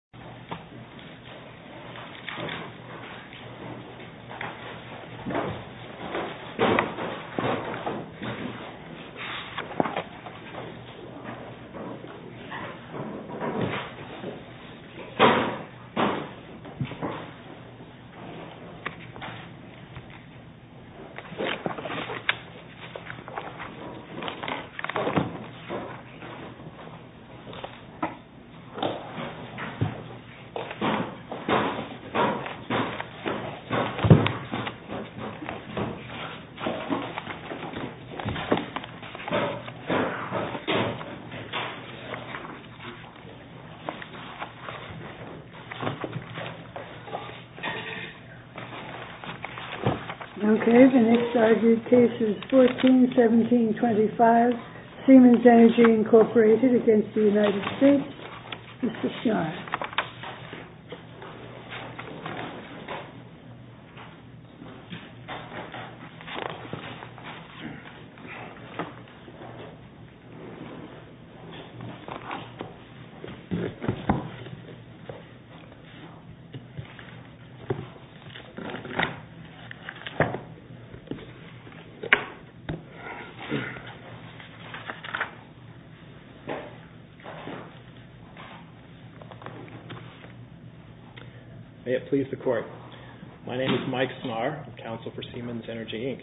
U.S. Embassy in the Philippines The next argued case is 14-17-25, Siemens Energy, Inc. v. United States. This is Sean. May it please the Court. My name is Mike Smarr, Counsel for Siemens Energy, Inc.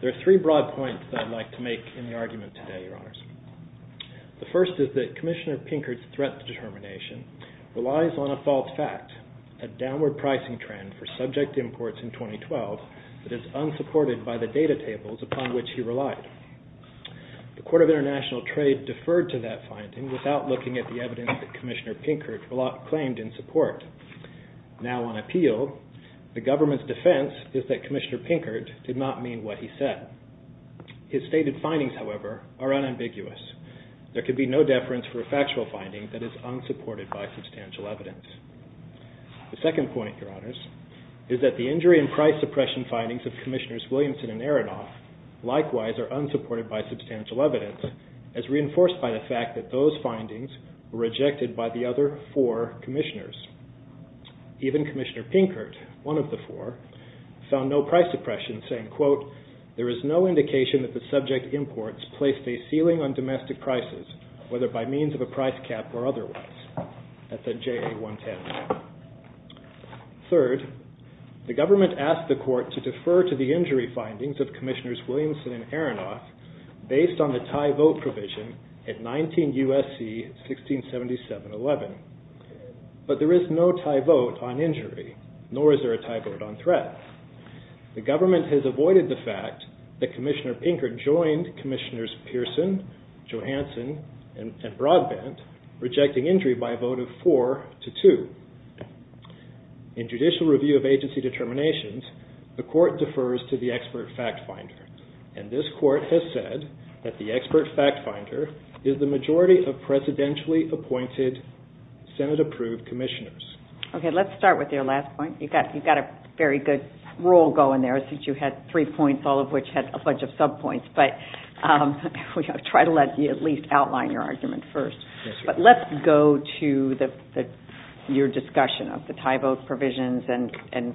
There are three broad points that I'd like to make in the argument today, Your Honors. The first is that Commissioner Pinkert's threat determination relies on a false fact, a downward pricing trend for subject imports in 2012 that is unsupported by the data tables upon which he relied. The Court of International Trade deferred to that finding without looking at the evidence that Commissioner Pinkert claimed in support. Now on appeal, the government's defense is that Commissioner Pinkert did not mean what he said. His stated findings, however, are unambiguous. There can be no deference for a factual finding that is unsupported by substantial evidence. The second point, Your Honors, is that the injury and price suppression findings of Commissioners Williamson and Aronoff likewise are unsupported by substantial evidence, as reinforced by the fact that those findings were rejected by the other four commissioners. Even Commissioner Pinkert, one of the four, found no price suppression saying, quote, there is no indication that the subject imports placed a ceiling on domestic prices, whether by means of a price cap or otherwise. That's at JA-110. Third, the government asked the court to defer to the injury findings of Commissioners Williamson and Aronoff based on the tie vote provision at 19 U.S.C. 1677-11. But there is no tie vote on injury, nor is there a tie vote on threat. The government has avoided the fact that Commissioner Pinkert joined Commissioners Pearson, Johansson, and Broadbent, rejecting injury by a vote of four to two. In judicial review of agency determinations, the court defers to the expert fact finder. And this court has said that the expert fact finder is the majority of presidentially appointed Senate-approved commissioners. Okay, let's start with your last point. You've got a very good roll going there, since you had three points, all of which had a bunch of subpoints. But I'll try to at least outline your argument first. But let's go to your discussion of the tie vote provisions and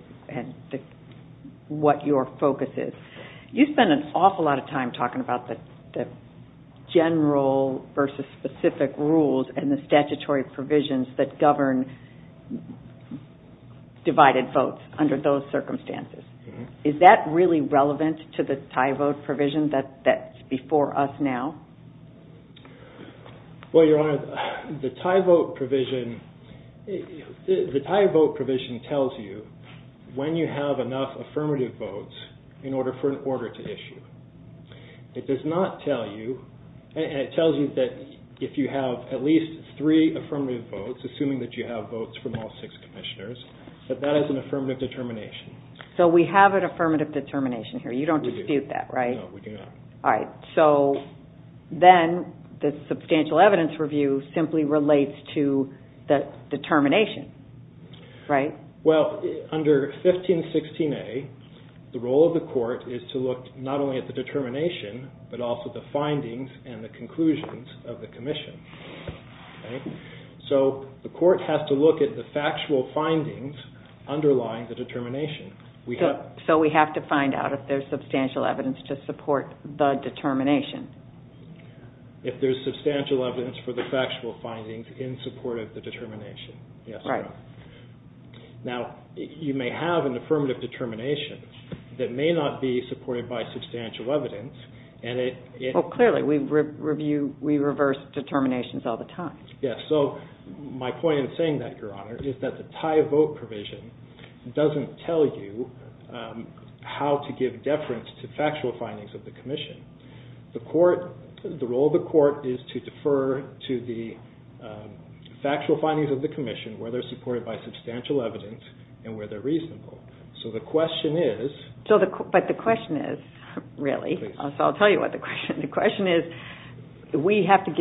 what your focus is. You spend an awful lot of time talking about the general versus specific rules and the statutory provisions that govern divided votes under those circumstances. Is that really relevant to the tie vote provision that's before us now? Well, Your Honor, the tie vote provision tells you when you have enough affirmative votes in order for an order to issue. It does not tell you, and it tells you that if you have at least three affirmative votes, assuming that you have votes from all six commissioners, that that is an affirmative determination. So we have an affirmative determination here. You don't dispute that, right? No, we do not. All right. So then the substantial evidence review simply relates to the determination, right? Well, under 1516A, the role of the court is to look not only at the determination but also the findings and the conclusions of the commission. So the court has to look at the factual findings underlying the determination. So we have to find out if there's substantial evidence to support the determination? If there's substantial evidence for the factual findings in support of the determination. Right. Now, you may have an affirmative determination that may not be supported by substantial evidence. Well, clearly, we reverse determinations all the time. Yes. So my point in saying that, Your Honor, is that the tie vote provision doesn't tell you how to give deference to factual findings of the commission. The role of the court is to defer to the factual findings of the commission where they're supported by substantial evidence and where they're reasonable. So the question is... But the question is, really, so I'll tell you what the question is. The question is, we have to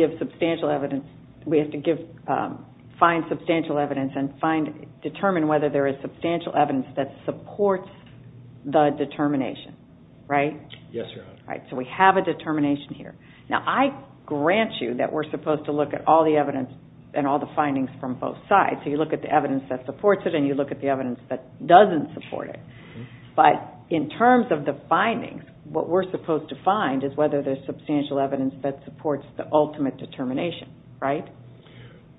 find substantial evidence and determine whether there is substantial evidence that supports the determination, right? Yes, Your Honor. All right. So we have a determination here. Now, I grant you that we're supposed to look at all the evidence and all the findings from both sides. So you look at the evidence that supports it and you look at the evidence that doesn't support it. But in terms of the findings, what we're supposed to find is whether there's substantial evidence that supports the ultimate determination, right?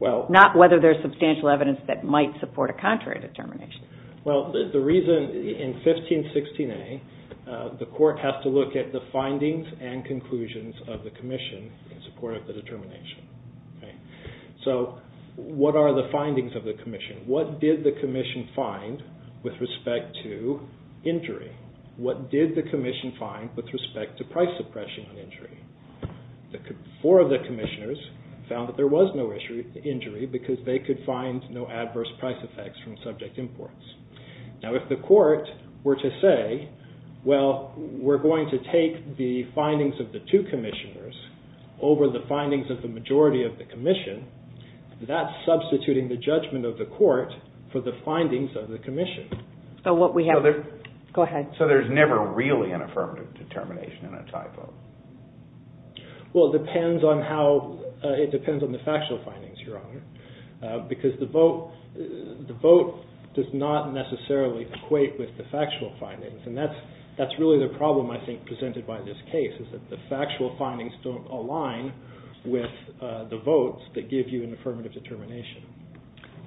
Not whether there's substantial evidence that might support a contrary determination. Well, the reason in 1516A, the court has to look at the findings and conclusions of the commission in support of the determination. So what are the findings of the commission? What did the commission find with respect to injury? What did the commission find with respect to price suppression on injury? Four of the commissioners found that there was no injury because they could find no adverse price effects from subject imports. Now, if the court were to say, well, we're going to take the findings of the two commissioners over the findings of the majority of the commission, that's substituting the judgment of the court for the findings of the commission. Go ahead. So there's never really an affirmative determination in a typo? Well, it depends on the factual findings, Your Honor, because the vote does not necessarily equate with the factual findings. And that's really the problem, I think, presented by this case is that the factual findings don't align with the votes that give you an affirmative determination.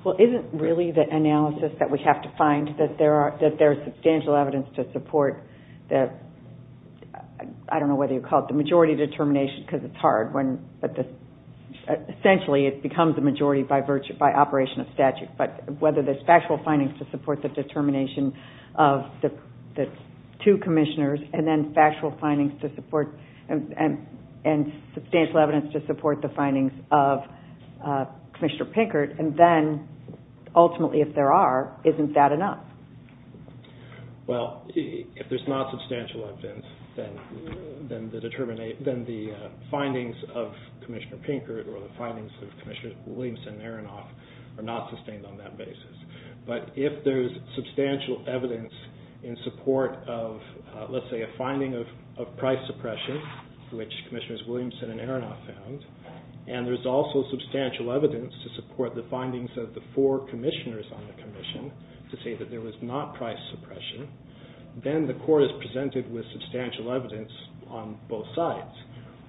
Well, isn't really the analysis that we have to find that there is substantial evidence to support the, I don't know whether you'd call it the majority determination because it's hard, but essentially it becomes the majority by operation of statute. But whether there's factual findings to support the determination of the two commissioners and then factual findings to support and substantial evidence to support the findings of Commissioner Pinkert, and then ultimately, if there are, isn't that enough? Well, if there's not substantial evidence, then the findings of Commissioner Pinkert or the findings of Commissioner Williamson and Aronoff are not sustained on that basis. But if there's substantial evidence in support of, let's say, a finding of price suppression, which Commissioners Williamson and Aronoff found, and there's also substantial evidence to support the findings of the four commissioners on the commission to say that there was not price suppression, then the court is presented with substantial evidence on both sides.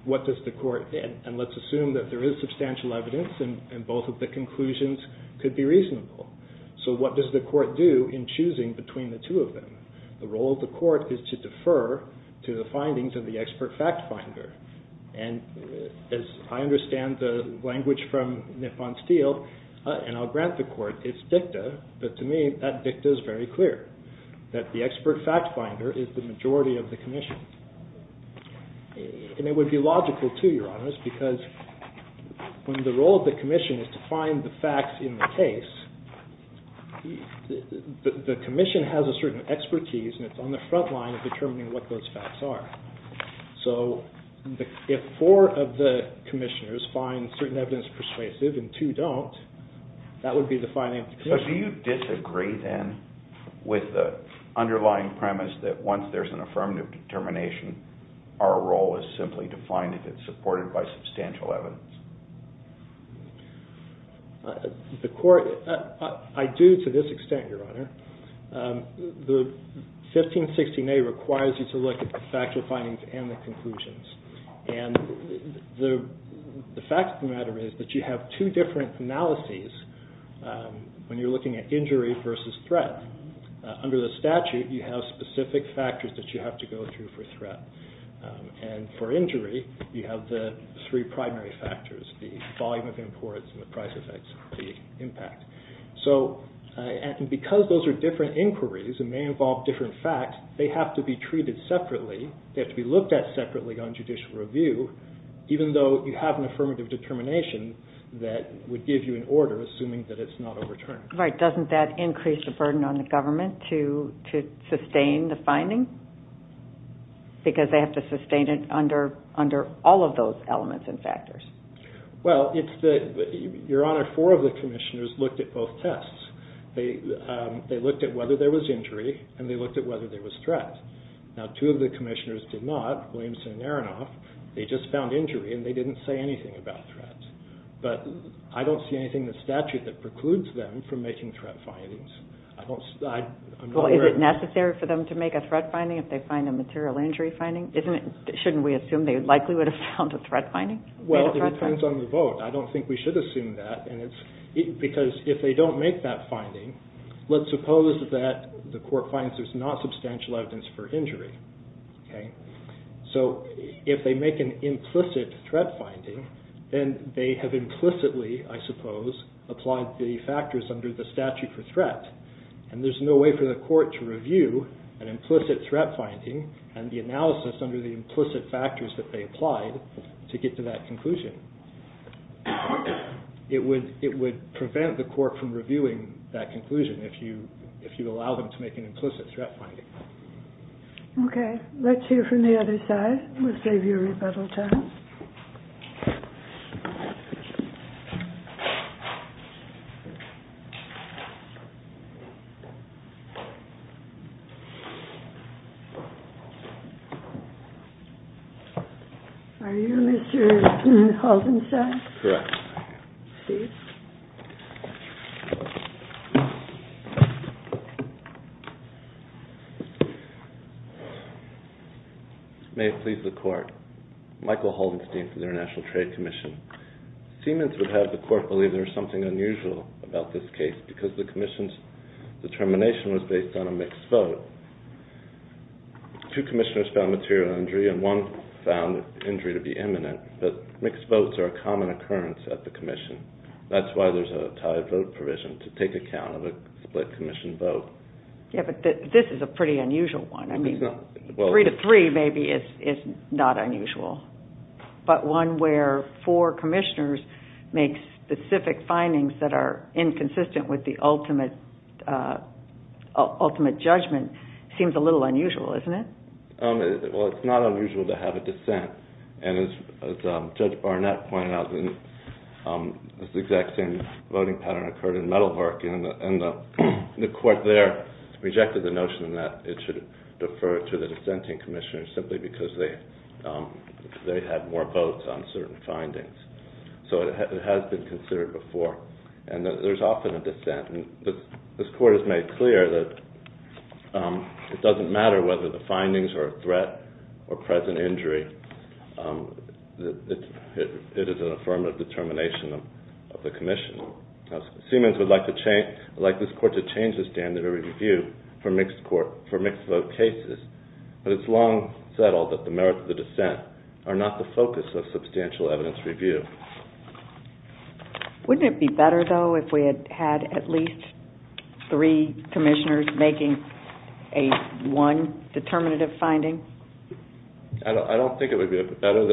What does the court, and let's assume that there is substantial evidence and both of the conclusions could be reasonable. So what does the court do in choosing between the two of them? The role of the court is to defer to the findings of the expert fact finder. And as I understand the language from Nippon Steele, and I'll grant the court its dicta, but to me that dicta is very clear, that the expert fact finder is the majority of the commission. And it would be logical too, Your Honors, because when the role of the commission is to find the facts in the case, the commission has a certain expertise and it's on the front line of determining what those facts are. So if four of the commissioners find certain evidence persuasive and two don't, that would be defining the commission. So do you disagree then with the underlying premise that once there's an affirmative determination, our role is simply to find if it's supported by substantial evidence? I do to this extent, Your Honor. The 1516A requires you to look at the factual findings and the conclusions. And the fact of the matter is that you have two different analyses when you're looking at injury versus threat. Under the statute, you have specific factors that you have to go through for threat. And for injury, you have the three primary factors, the volume of imports and the price effects, the impact. So because those are different inquiries and they involve different facts, they have to be treated separately. They have to be looked at separately on judicial review, even though you have an affirmative determination that would give you an order, assuming that it's not overturned. Right. Doesn't that increase the burden on the government to sustain the finding? Because they have to sustain it under all of those elements and factors. Well, Your Honor, four of the commissioners looked at both tests. They looked at whether there was injury and they looked at whether there was threat. Now, two of the commissioners did not, Williamson and Aronoff. They just found injury and they didn't say anything about threat. But I don't see anything in the statute that precludes them from making threat findings. Well, is it necessary for them to make a threat finding if they find a material injury finding? Shouldn't we assume they likely would have found a threat finding? Well, it depends on the vote. I don't think we should assume that because if they don't make that finding, let's suppose that the court finds there's not substantial evidence for injury. So if they make an implicit threat finding, then they have implicitly, I suppose, applied the factors under the statute for threat. And there's no way for the court to review an implicit threat finding and the analysis under the implicit factors that they applied to get to that conclusion. It would prevent the court from reviewing that conclusion if you allow them to make an implicit threat finding. Okay. Let's hear from the other side. We'll save you a rebuttal time. Are you Mr. Haldensad? Correct. Please. May it please the court. Michael Haldenstein from the International Trade Commission. Siemens would have the court believe there was something unusual about this case because the commission's determination was based on a mixed vote. Two commissioners found material injury and one found injury to be imminent, but mixed votes are a common occurrence at the commission. That's why there's a tied vote provision to take account of a split commission vote. Yeah, but this is a pretty unusual one. Three to three maybe is not unusual. But one where four commissioners make specific findings that are inconsistent with the ultimate judgment seems a little unusual, isn't it? Well, it's not unusual to have a dissent. And as Judge Barnett pointed out, this exact same voting pattern occurred in Meadowhark. And the court there rejected the notion that it should defer to the dissenting commissioners simply because they had more votes on certain findings. So it has been considered before. And there's often a dissent. And this court has made clear that it doesn't matter whether the findings are a threat or present injury, it is an affirmative determination of the commission. Siemens would like this court to change the standard of review for mixed vote cases. But it's long settled that the merits of the dissent are not the focus of substantial evidence review. Wouldn't it be better, though, if we had at least three commissioners making one determinative finding? I don't think it would be better.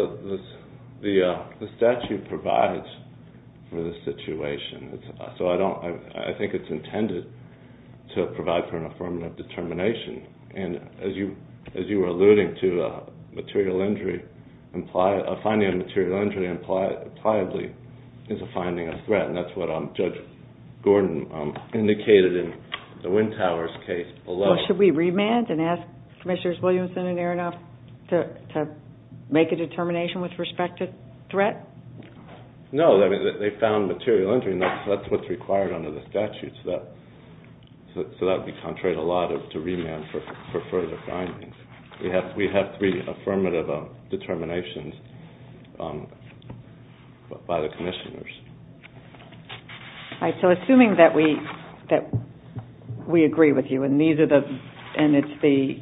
The statute provides for the situation. So I think it's intended to provide for an affirmative determination. And as you were alluding to, finding a material injury is a finding of threat. And that's what Judge Gordon indicated in the Wintowers case below. Well, should we remand and ask Commissioners Williamson and Aronoff to make a determination with respect to threat? No, they found material injury, and that's what's required under the statute. So that would be contrary to the law to remand for further findings. We have three affirmative determinations by the commissioners. All right, so assuming that we agree with you and it's the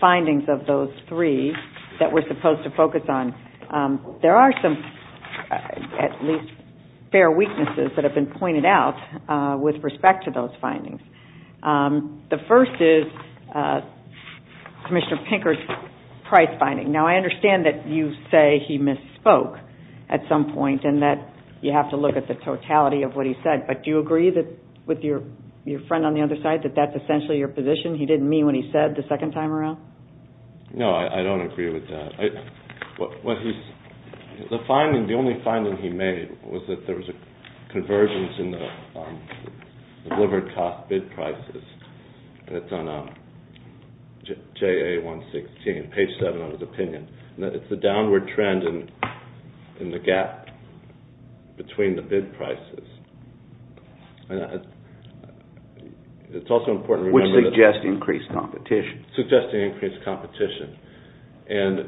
findings of those three that we're supposed to focus on, there are some, at least, fair weaknesses that have been pointed out with respect to those findings. The first is Commissioner Pinker's price finding. Now, I understand that you say he misspoke at some point and that you have to look at the totality of what he said. But do you agree with your friend on the other side that that's essentially your position? He didn't mean what he said the second time around? No, I don't agree with that. The only finding he made was that there was a convergence in the delivered cost bid prices. That's on JA-116, page 7 of his opinion. It's the downward trend in the gap between the bid prices. It's also important to remember that. Which suggests increased competition. Suggesting increased competition. And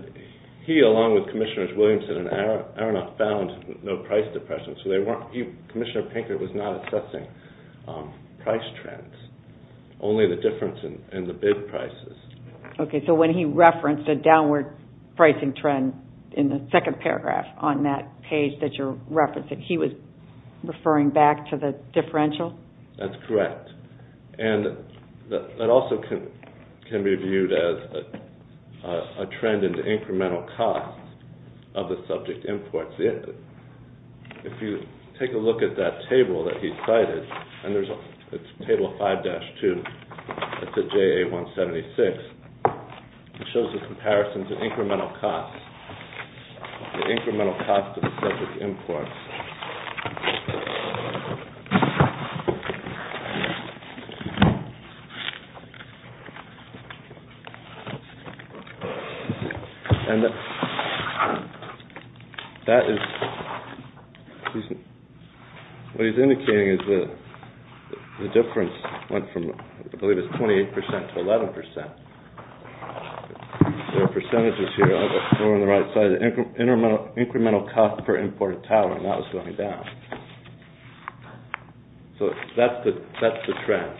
he, along with Commissioners Williamson and Aronoff, found no price depressions. Commissioner Pinker was not assessing price trends, only the difference in the bid prices. Okay, so when he referenced a downward pricing trend in the second paragraph on that page that you're referencing, he was referring back to the differential? That's correct. And that also can be viewed as a trend in the incremental cost of the subject imports. If you take a look at that table that he cited, and it's table 5-2, that's at JA-176, it shows a comparison to incremental costs, the incremental cost of the subject imports. And that is, what he's indicating is the difference went from, I believe it's 28% to 11%. There are percentages here on the right side. Incremental cost per imported talent, that was going down. So that's the trend.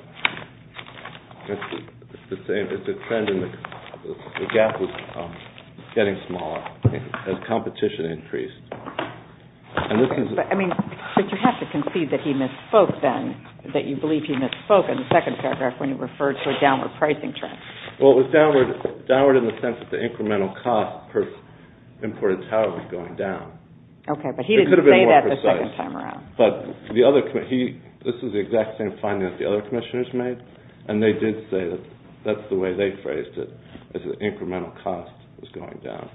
It's the trend in the gap was getting smaller as competition increased. But you have to concede that he misspoke then, that you believe he misspoke in the second paragraph when he referred to a downward pricing trend. Well, it was downward in the sense that the incremental cost per imported talent was going down. Okay, but he didn't say that the second time around. But this is the exact same finding that the other commissioners made, and they did say that that's the way they phrased it, that the incremental cost was going down.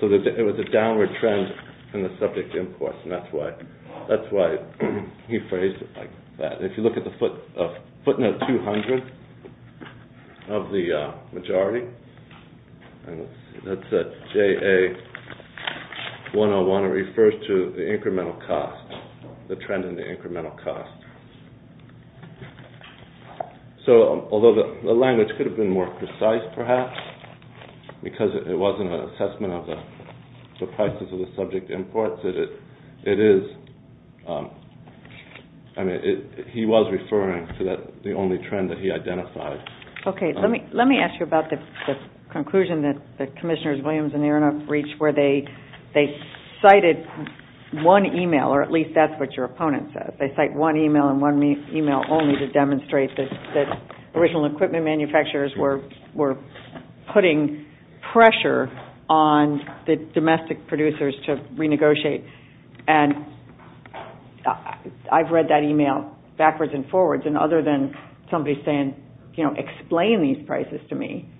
So it was a downward trend in the subject imports, and that's why he phrased it like that. If you look at the footnote 200 of the majority, that's JA101. It refers to the incremental cost, the trend in the incremental cost. So although the language could have been more precise perhaps, because it wasn't an assessment of the prices of the subject imports, it is – I mean, he was referring to the only trend that he identified. Okay, let me ask you about the conclusion that the commissioners Williams and Aronoff reached where they cited one e-mail, or at least that's what your opponent says. They cite one e-mail and one e-mail only to demonstrate that original equipment manufacturers were putting pressure on the domestic producers to renegotiate. And I've read that e-mail backwards and forwards, and other than somebody saying, you know, explain these prices to me.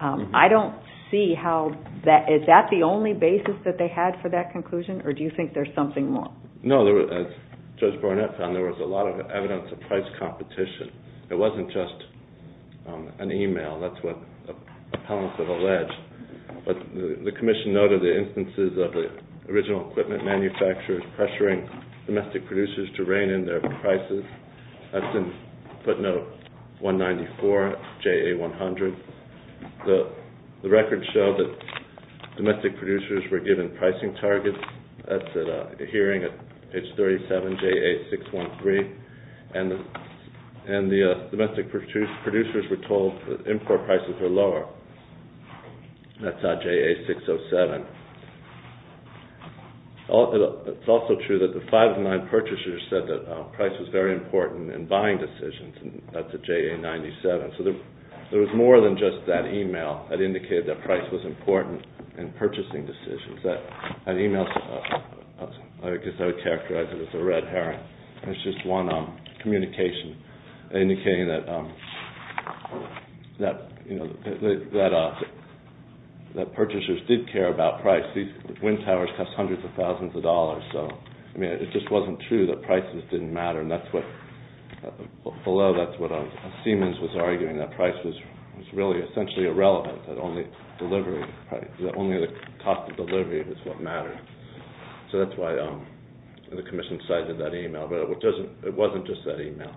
I don't see how that – is that the only basis that they had for that conclusion, or do you think there's something more? No, as Judge Burnett found, there was a lot of evidence of price competition. It wasn't just an e-mail. That's what opponents have alleged. But the commission noted the instances of the original equipment manufacturers pressuring domestic producers to rein in their prices. That's in footnote 194, JA100. The records show that domestic producers were given pricing targets. That's at a hearing at page 37, JA613. And the domestic producers were told that import prices were lower. That's at JA607. It's also true that the five of nine purchasers said that price was very important in buying decisions. That's at JA97. So there was more than just that e-mail that indicated that price was important in purchasing decisions. That e-mail – I guess I would characterize it as a red herring. It's just one communication indicating that purchasers did care about price. These wind towers cost hundreds of thousands of dollars. So it just wasn't true that prices didn't matter. And that's what – although that's what Siemens was arguing, that price was really essentially irrelevant, that only delivery – that only the cost of delivery was what mattered. So that's why the Commission cited that e-mail. But it wasn't just that e-mail.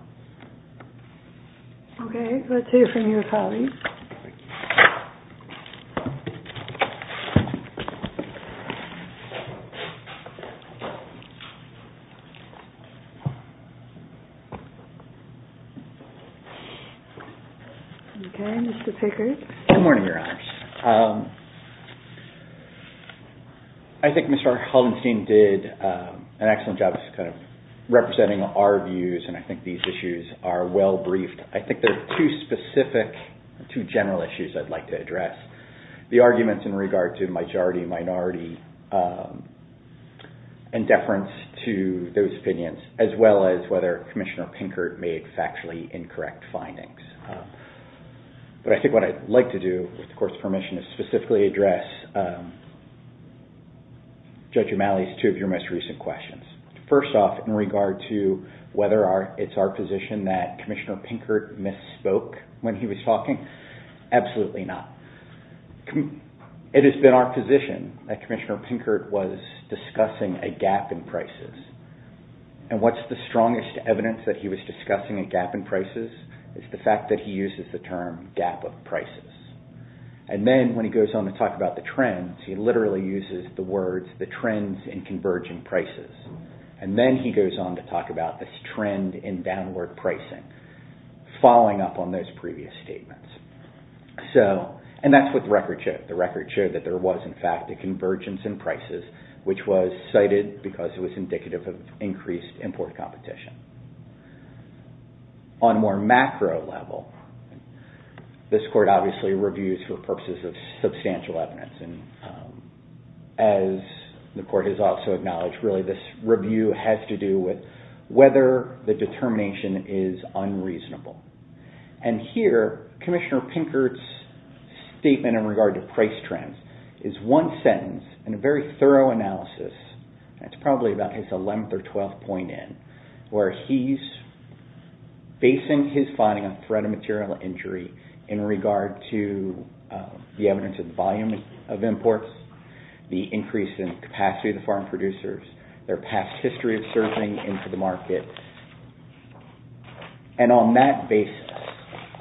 Okay, let's hear from you, Holly. Okay, Mr. Pickard. Good morning, Your Honors. I think Mr. Hollenstein did an excellent job of kind of representing our views, and I think these issues are well briefed. I think there are two specific – two general issues I'd like to address. The arguments in regard to majority-minority indifference to those opinions, as well as whether Commissioner Pickard made factually incorrect findings. But I think what I'd like to do, with the Court's permission, is specifically address Judge O'Malley's two of your most recent questions. First off, in regard to whether it's our position that Commissioner Pickard misspoke when he was talking, absolutely not. It has been our position that Commissioner Pickard was discussing a gap in prices. And what's the strongest evidence that he was discussing a gap in prices? It's the fact that he uses the term gap of prices. And then, when he goes on to talk about the trends, he literally uses the words, the trends in converging prices. And then he goes on to talk about this trend in downward pricing, following up on those previous statements. And that's what the record showed. The record showed that there was, in fact, a convergence in prices, which was cited because it was indicative of increased import competition. On a more macro level, this Court obviously reviews for purposes of substantial evidence. And as the Court has also acknowledged, really this review has to do with whether the determination is unreasonable. And here, Commissioner Pickard's statement in regard to price trends is one sentence in a very thorough analysis, and it's probably about his 11th or 12th point in, where he's basing his finding on threat of material injury in regard to the evidence of the volume of imports, the increase in capacity of the farm producers, their past history of serving into the market. And on that basis,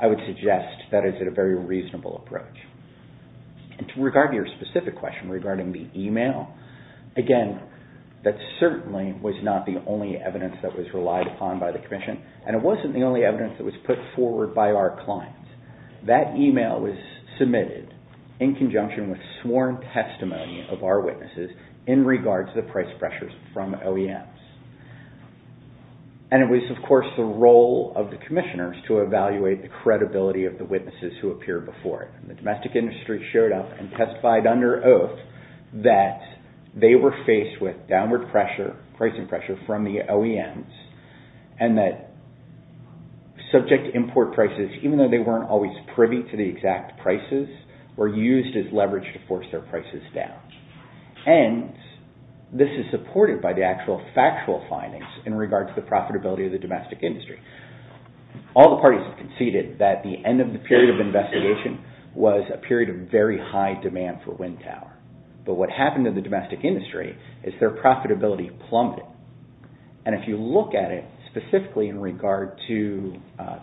I would suggest that it's a very reasonable approach. And to regard your specific question regarding the email, again, that certainly was not the only evidence that was relied upon by the Commission, and it wasn't the only evidence that was put forward by our clients. That email was submitted in conjunction with sworn testimony of our witnesses in regard to the price pressures from OEMs. And it was, of course, the role of the Commissioners to evaluate the credibility of the witnesses who appeared before it. The domestic industry showed up and testified under oath that they were faced with downward pricing pressure from the OEMs, and that subject import prices, even though they weren't always privy to the exact prices, were used as leverage to force their prices down. And this is supported by the actual factual findings in regard to the profitability of the domestic industry. All the parties conceded that the end of the period of investigation was a period of very high demand for wind power. But what happened to the domestic industry is their profitability plummeted. And if you look at it specifically in regard to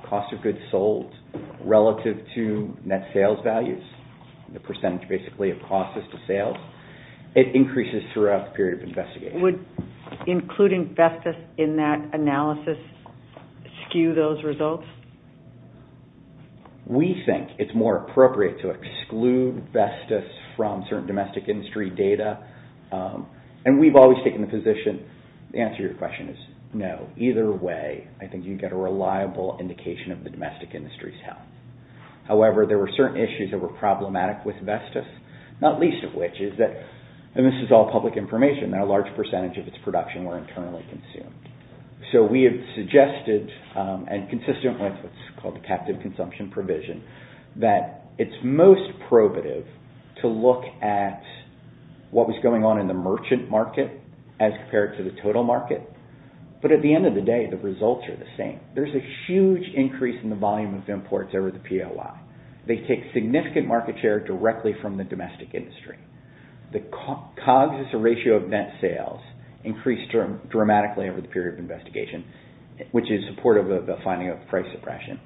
cost of goods sold relative to net sales values, the percentage basically of costs as to sales, it increases throughout the period of investigation. Would including Vestas in that analysis skew those results? We think it's more appropriate to exclude Vestas from certain domestic industry data. And we've always taken the position, the answer to your question is no. Either way, I think you can get a reliable indication of the domestic industry's health. However, there were certain issues that were problematic with Vestas, not least of which is that, and this is all public information, that a large percentage of its production were internally consumed. So we have suggested, and consistent with what's called the captive consumption provision, that it's most probative to look at what was going on in the merchant market as compared to the total market. But at the end of the day, the results are the same. There's a huge increase in the volume of imports over the POI. They take significant market share directly from the domestic industry. The COGS, the ratio of net sales, increased dramatically over the period of investigation, which is supportive of the finding of price suppression.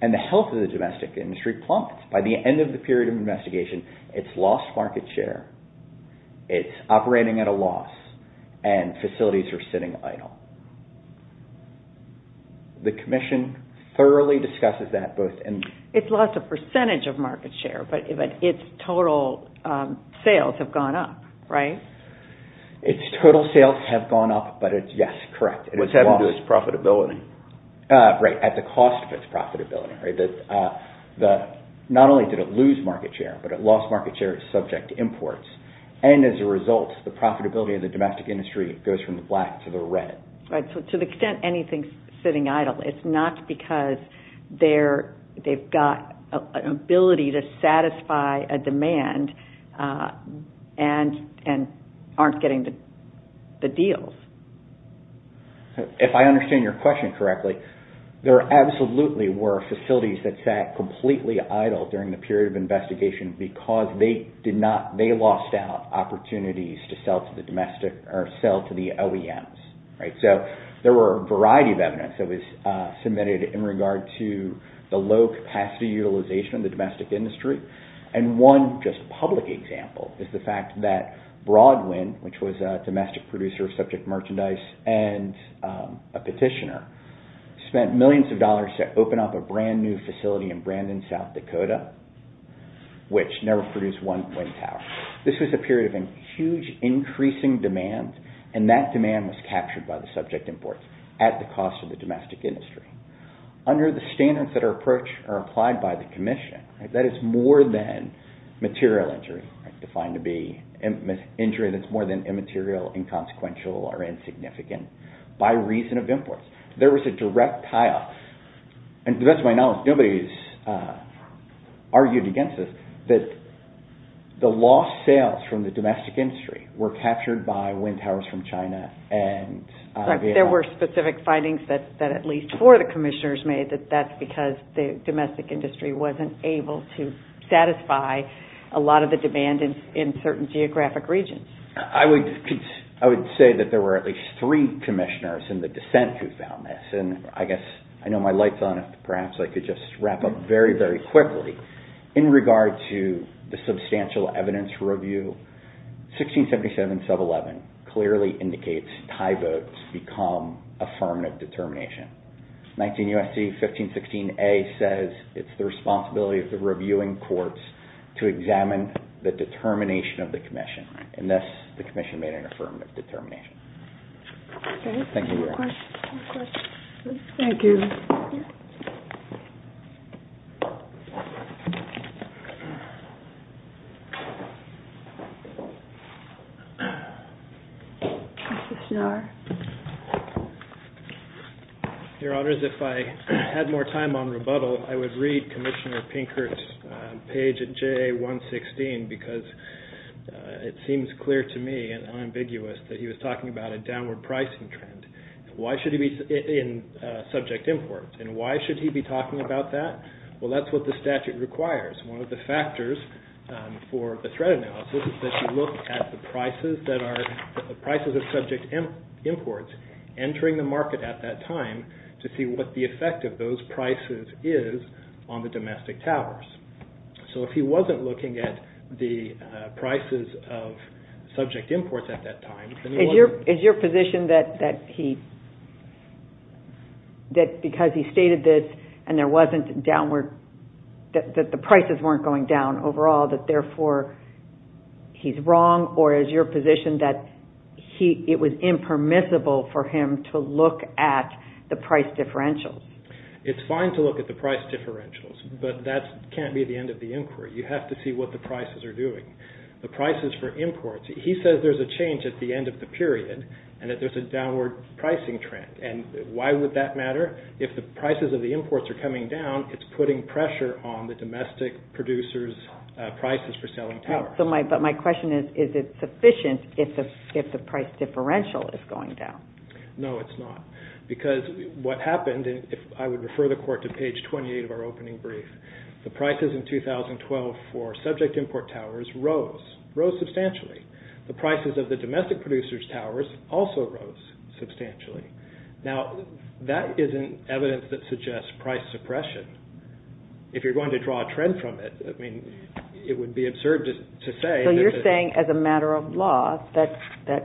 And the health of the domestic industry plumped. By the end of the period of investigation, it's lost market share, it's operating at a loss, and facilities are sitting idle. The Commission thoroughly discusses that both in... Its total sales have gone up, but it's, yes, correct. What's happened to its profitability? Right, at the cost of its profitability. Not only did it lose market share, but it lost market share subject to imports. And as a result, the profitability of the domestic industry goes from the black to the red. Right, so to the extent anything's sitting idle, it's not because they've got an ability to satisfy a demand and aren't getting the deals. If I understand your question correctly, there absolutely were facilities that sat completely idle during the period of investigation because they lost out opportunities to sell to the OEMs. Right, so there were a variety of evidence that was submitted in regard to the low capacity utilization of the domestic industry. And one just public example is the fact that Broadwind, which was a domestic producer of subject merchandise and a petitioner, spent millions of dollars to open up a brand new facility in Brandon, South Dakota, which never produced one wind tower. This was a period of huge increasing demand, and that demand was captured by the subject imports at the cost of the domestic industry. Under the standards that are applied by the Commission, that is more than material injury, defined to be injury that's more than immaterial, inconsequential, or insignificant, by reason of imports. There was a direct tie-off. And to the best of my knowledge, nobody's argued against this, but the lost sales from the domestic industry were captured by wind towers from China and Vietnam. There were specific findings that at least four of the Commissioners made that that's because the domestic industry wasn't able to satisfy a lot of the demand in certain geographic regions. I would say that there were at least three Commissioners in the dissent who found this, and I guess I know my light's on. Perhaps I could just wrap up very, very quickly. In regard to the substantial evidence review, 1677-11 clearly indicates tie votes become affirmative determination. 19 U.S.C. 1516a says it's the responsibility of the reviewing courts to examine the determination of the Commission. And thus, the Commission made an affirmative determination. Thank you very much. Thank you. Your Honors, if I had more time on rebuttal, I would read Commissioner Pinkert's page at JA-116 because it seems clear to me and unambiguous that he was talking about a downward pricing trend. Why should he be in subject imports, and why should he be talking about that? Well, that's what the statute requires. One of the factors for the threat analysis is that you look at the prices of subject imports entering the market at that time to see what the effect of those prices is on the domestic towers. So if he wasn't looking at the prices of subject imports at that time... Is your position that because he stated this and that the prices weren't going down overall, that therefore he's wrong, or is your position that it was impermissible for him to look at the price differentials? It's fine to look at the price differentials, but that can't be the end of the inquiry. You have to see what the prices are doing. The prices for imports, he says there's a change at the end of the period and that there's a downward pricing trend. And why would that matter? If the prices of the imports are coming down, it's putting pressure on the domestic producers' prices for selling towers. But my question is, is it sufficient if the price differential is going down? No, it's not. Because what happened, and I would refer the Court to page 28 of our opening brief, the prices in 2012 for subject import towers rose, rose substantially. The prices of the domestic producers' towers also rose substantially. Now, that isn't evidence that suggests price suppression. If you're going to draw a trend from it, it would be absurd to say that... So you're saying as a matter of law that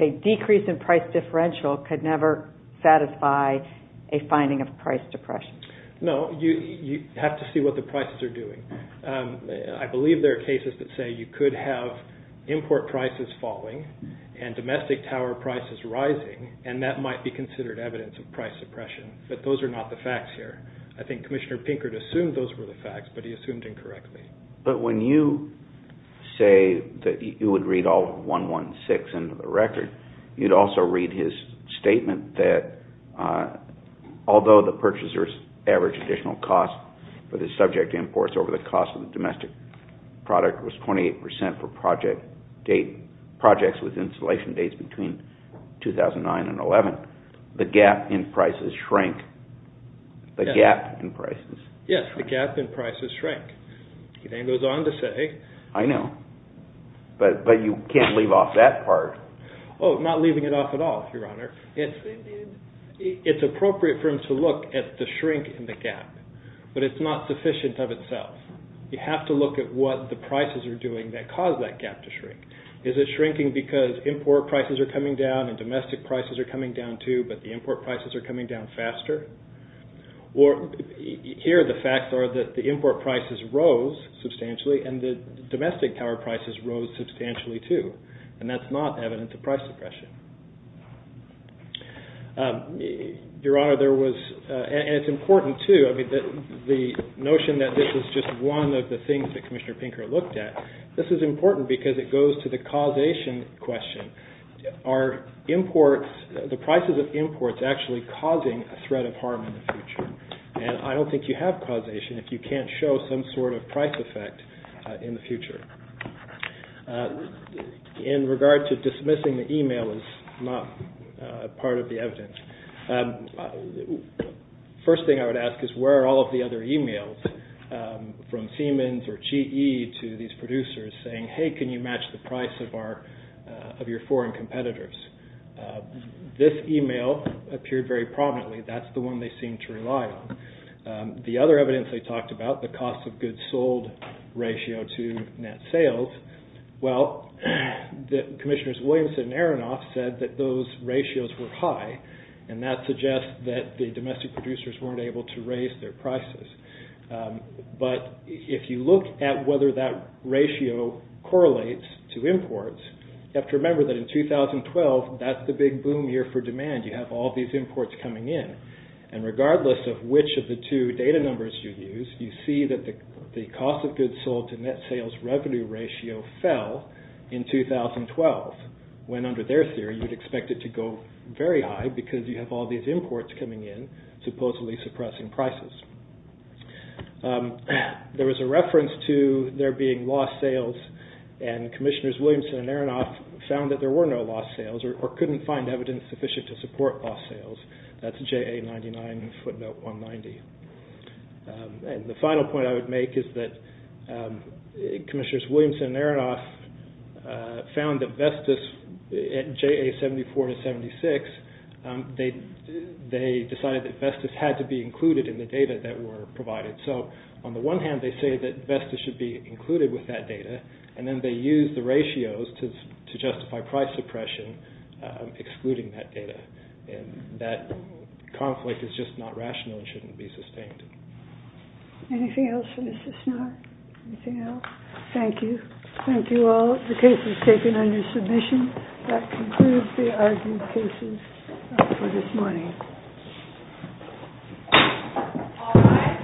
a decrease in price differential could never satisfy a finding of price suppression. No, you have to see what the prices are doing. I believe there are cases that say you could have import prices falling and domestic tower prices rising, and that might be considered evidence of price suppression. But those are not the facts here. I think Commissioner Pinkert assumed those were the facts, but he assumed incorrectly. But when you say that you would read all 116 into the record, you'd also read his statement that although the purchasers' average additional cost for the subject imports over the cost of the domestic product was 28% for projects with installation dates between 2009 and 2011, the gap in prices shrank. The gap in prices? Yes, the gap in prices shrank. He then goes on to say... I know, but you can't leave off that part. Oh, not leaving it off at all, Your Honor. It's appropriate for him to look at the shrink in the gap, but it's not sufficient of itself. You have to look at what the prices are doing that caused that gap to shrink. Is it shrinking because import prices are coming down and domestic prices are coming down too, but the import prices are coming down faster? Or here the facts are that the import prices rose substantially and the domestic power prices rose substantially too, and that's not evident to price suppression. Your Honor, there was... And it's important too, I mean, the notion that this is just one of the things that Commissioner Pinker looked at, this is important because it goes to the causation question. Are imports... The prices of imports actually causing a threat of harm in the future? And I don't think you have causation if you can't show some sort of price effect in the future. In regard to dismissing the email as not part of the evidence, first thing I would ask is where are all of the other emails from Siemens or GE to these producers saying, hey, can you match the price of your foreign competitors? This email appeared very prominently. That's the one they seem to rely on. The other evidence they talked about, the cost of goods sold ratio to net sales, well, Commissioners Williamson and Aronoff said that those ratios were high, and that suggests that the domestic producers weren't able to raise their prices. But if you look at whether that ratio correlates to imports, you have to remember that in 2012, that's the big boom year for demand. You have all these imports coming in. And regardless of which of the two data numbers you use, you see that the cost of goods sold to net sales revenue ratio fell in 2012 when under their theory you'd expect it to go very high because you have all these imports coming in supposedly suppressing prices. There was a reference to there being lost sales, and Commissioners Williamson and Aronoff found that there were no lost sales or couldn't find evidence sufficient to support lost sales. That's JA99 footnote 190. And the final point I would make is that Commissioners Williamson and Aronoff found that Vestas at JA74 to 76, they decided that Vestas had to be included in the data that were provided. So on the one hand, they say that Vestas should be included with that data, and then they used the ratios to justify price suppression excluding that data. And that conflict is just not rational and shouldn't be sustained. Anything else for Mrs. Snarr? Anything else? Thank you. Thank you all. The case is taken under submission. That concludes the argued cases for this morning. All rise. Council Court is adjourned at 2 p.m.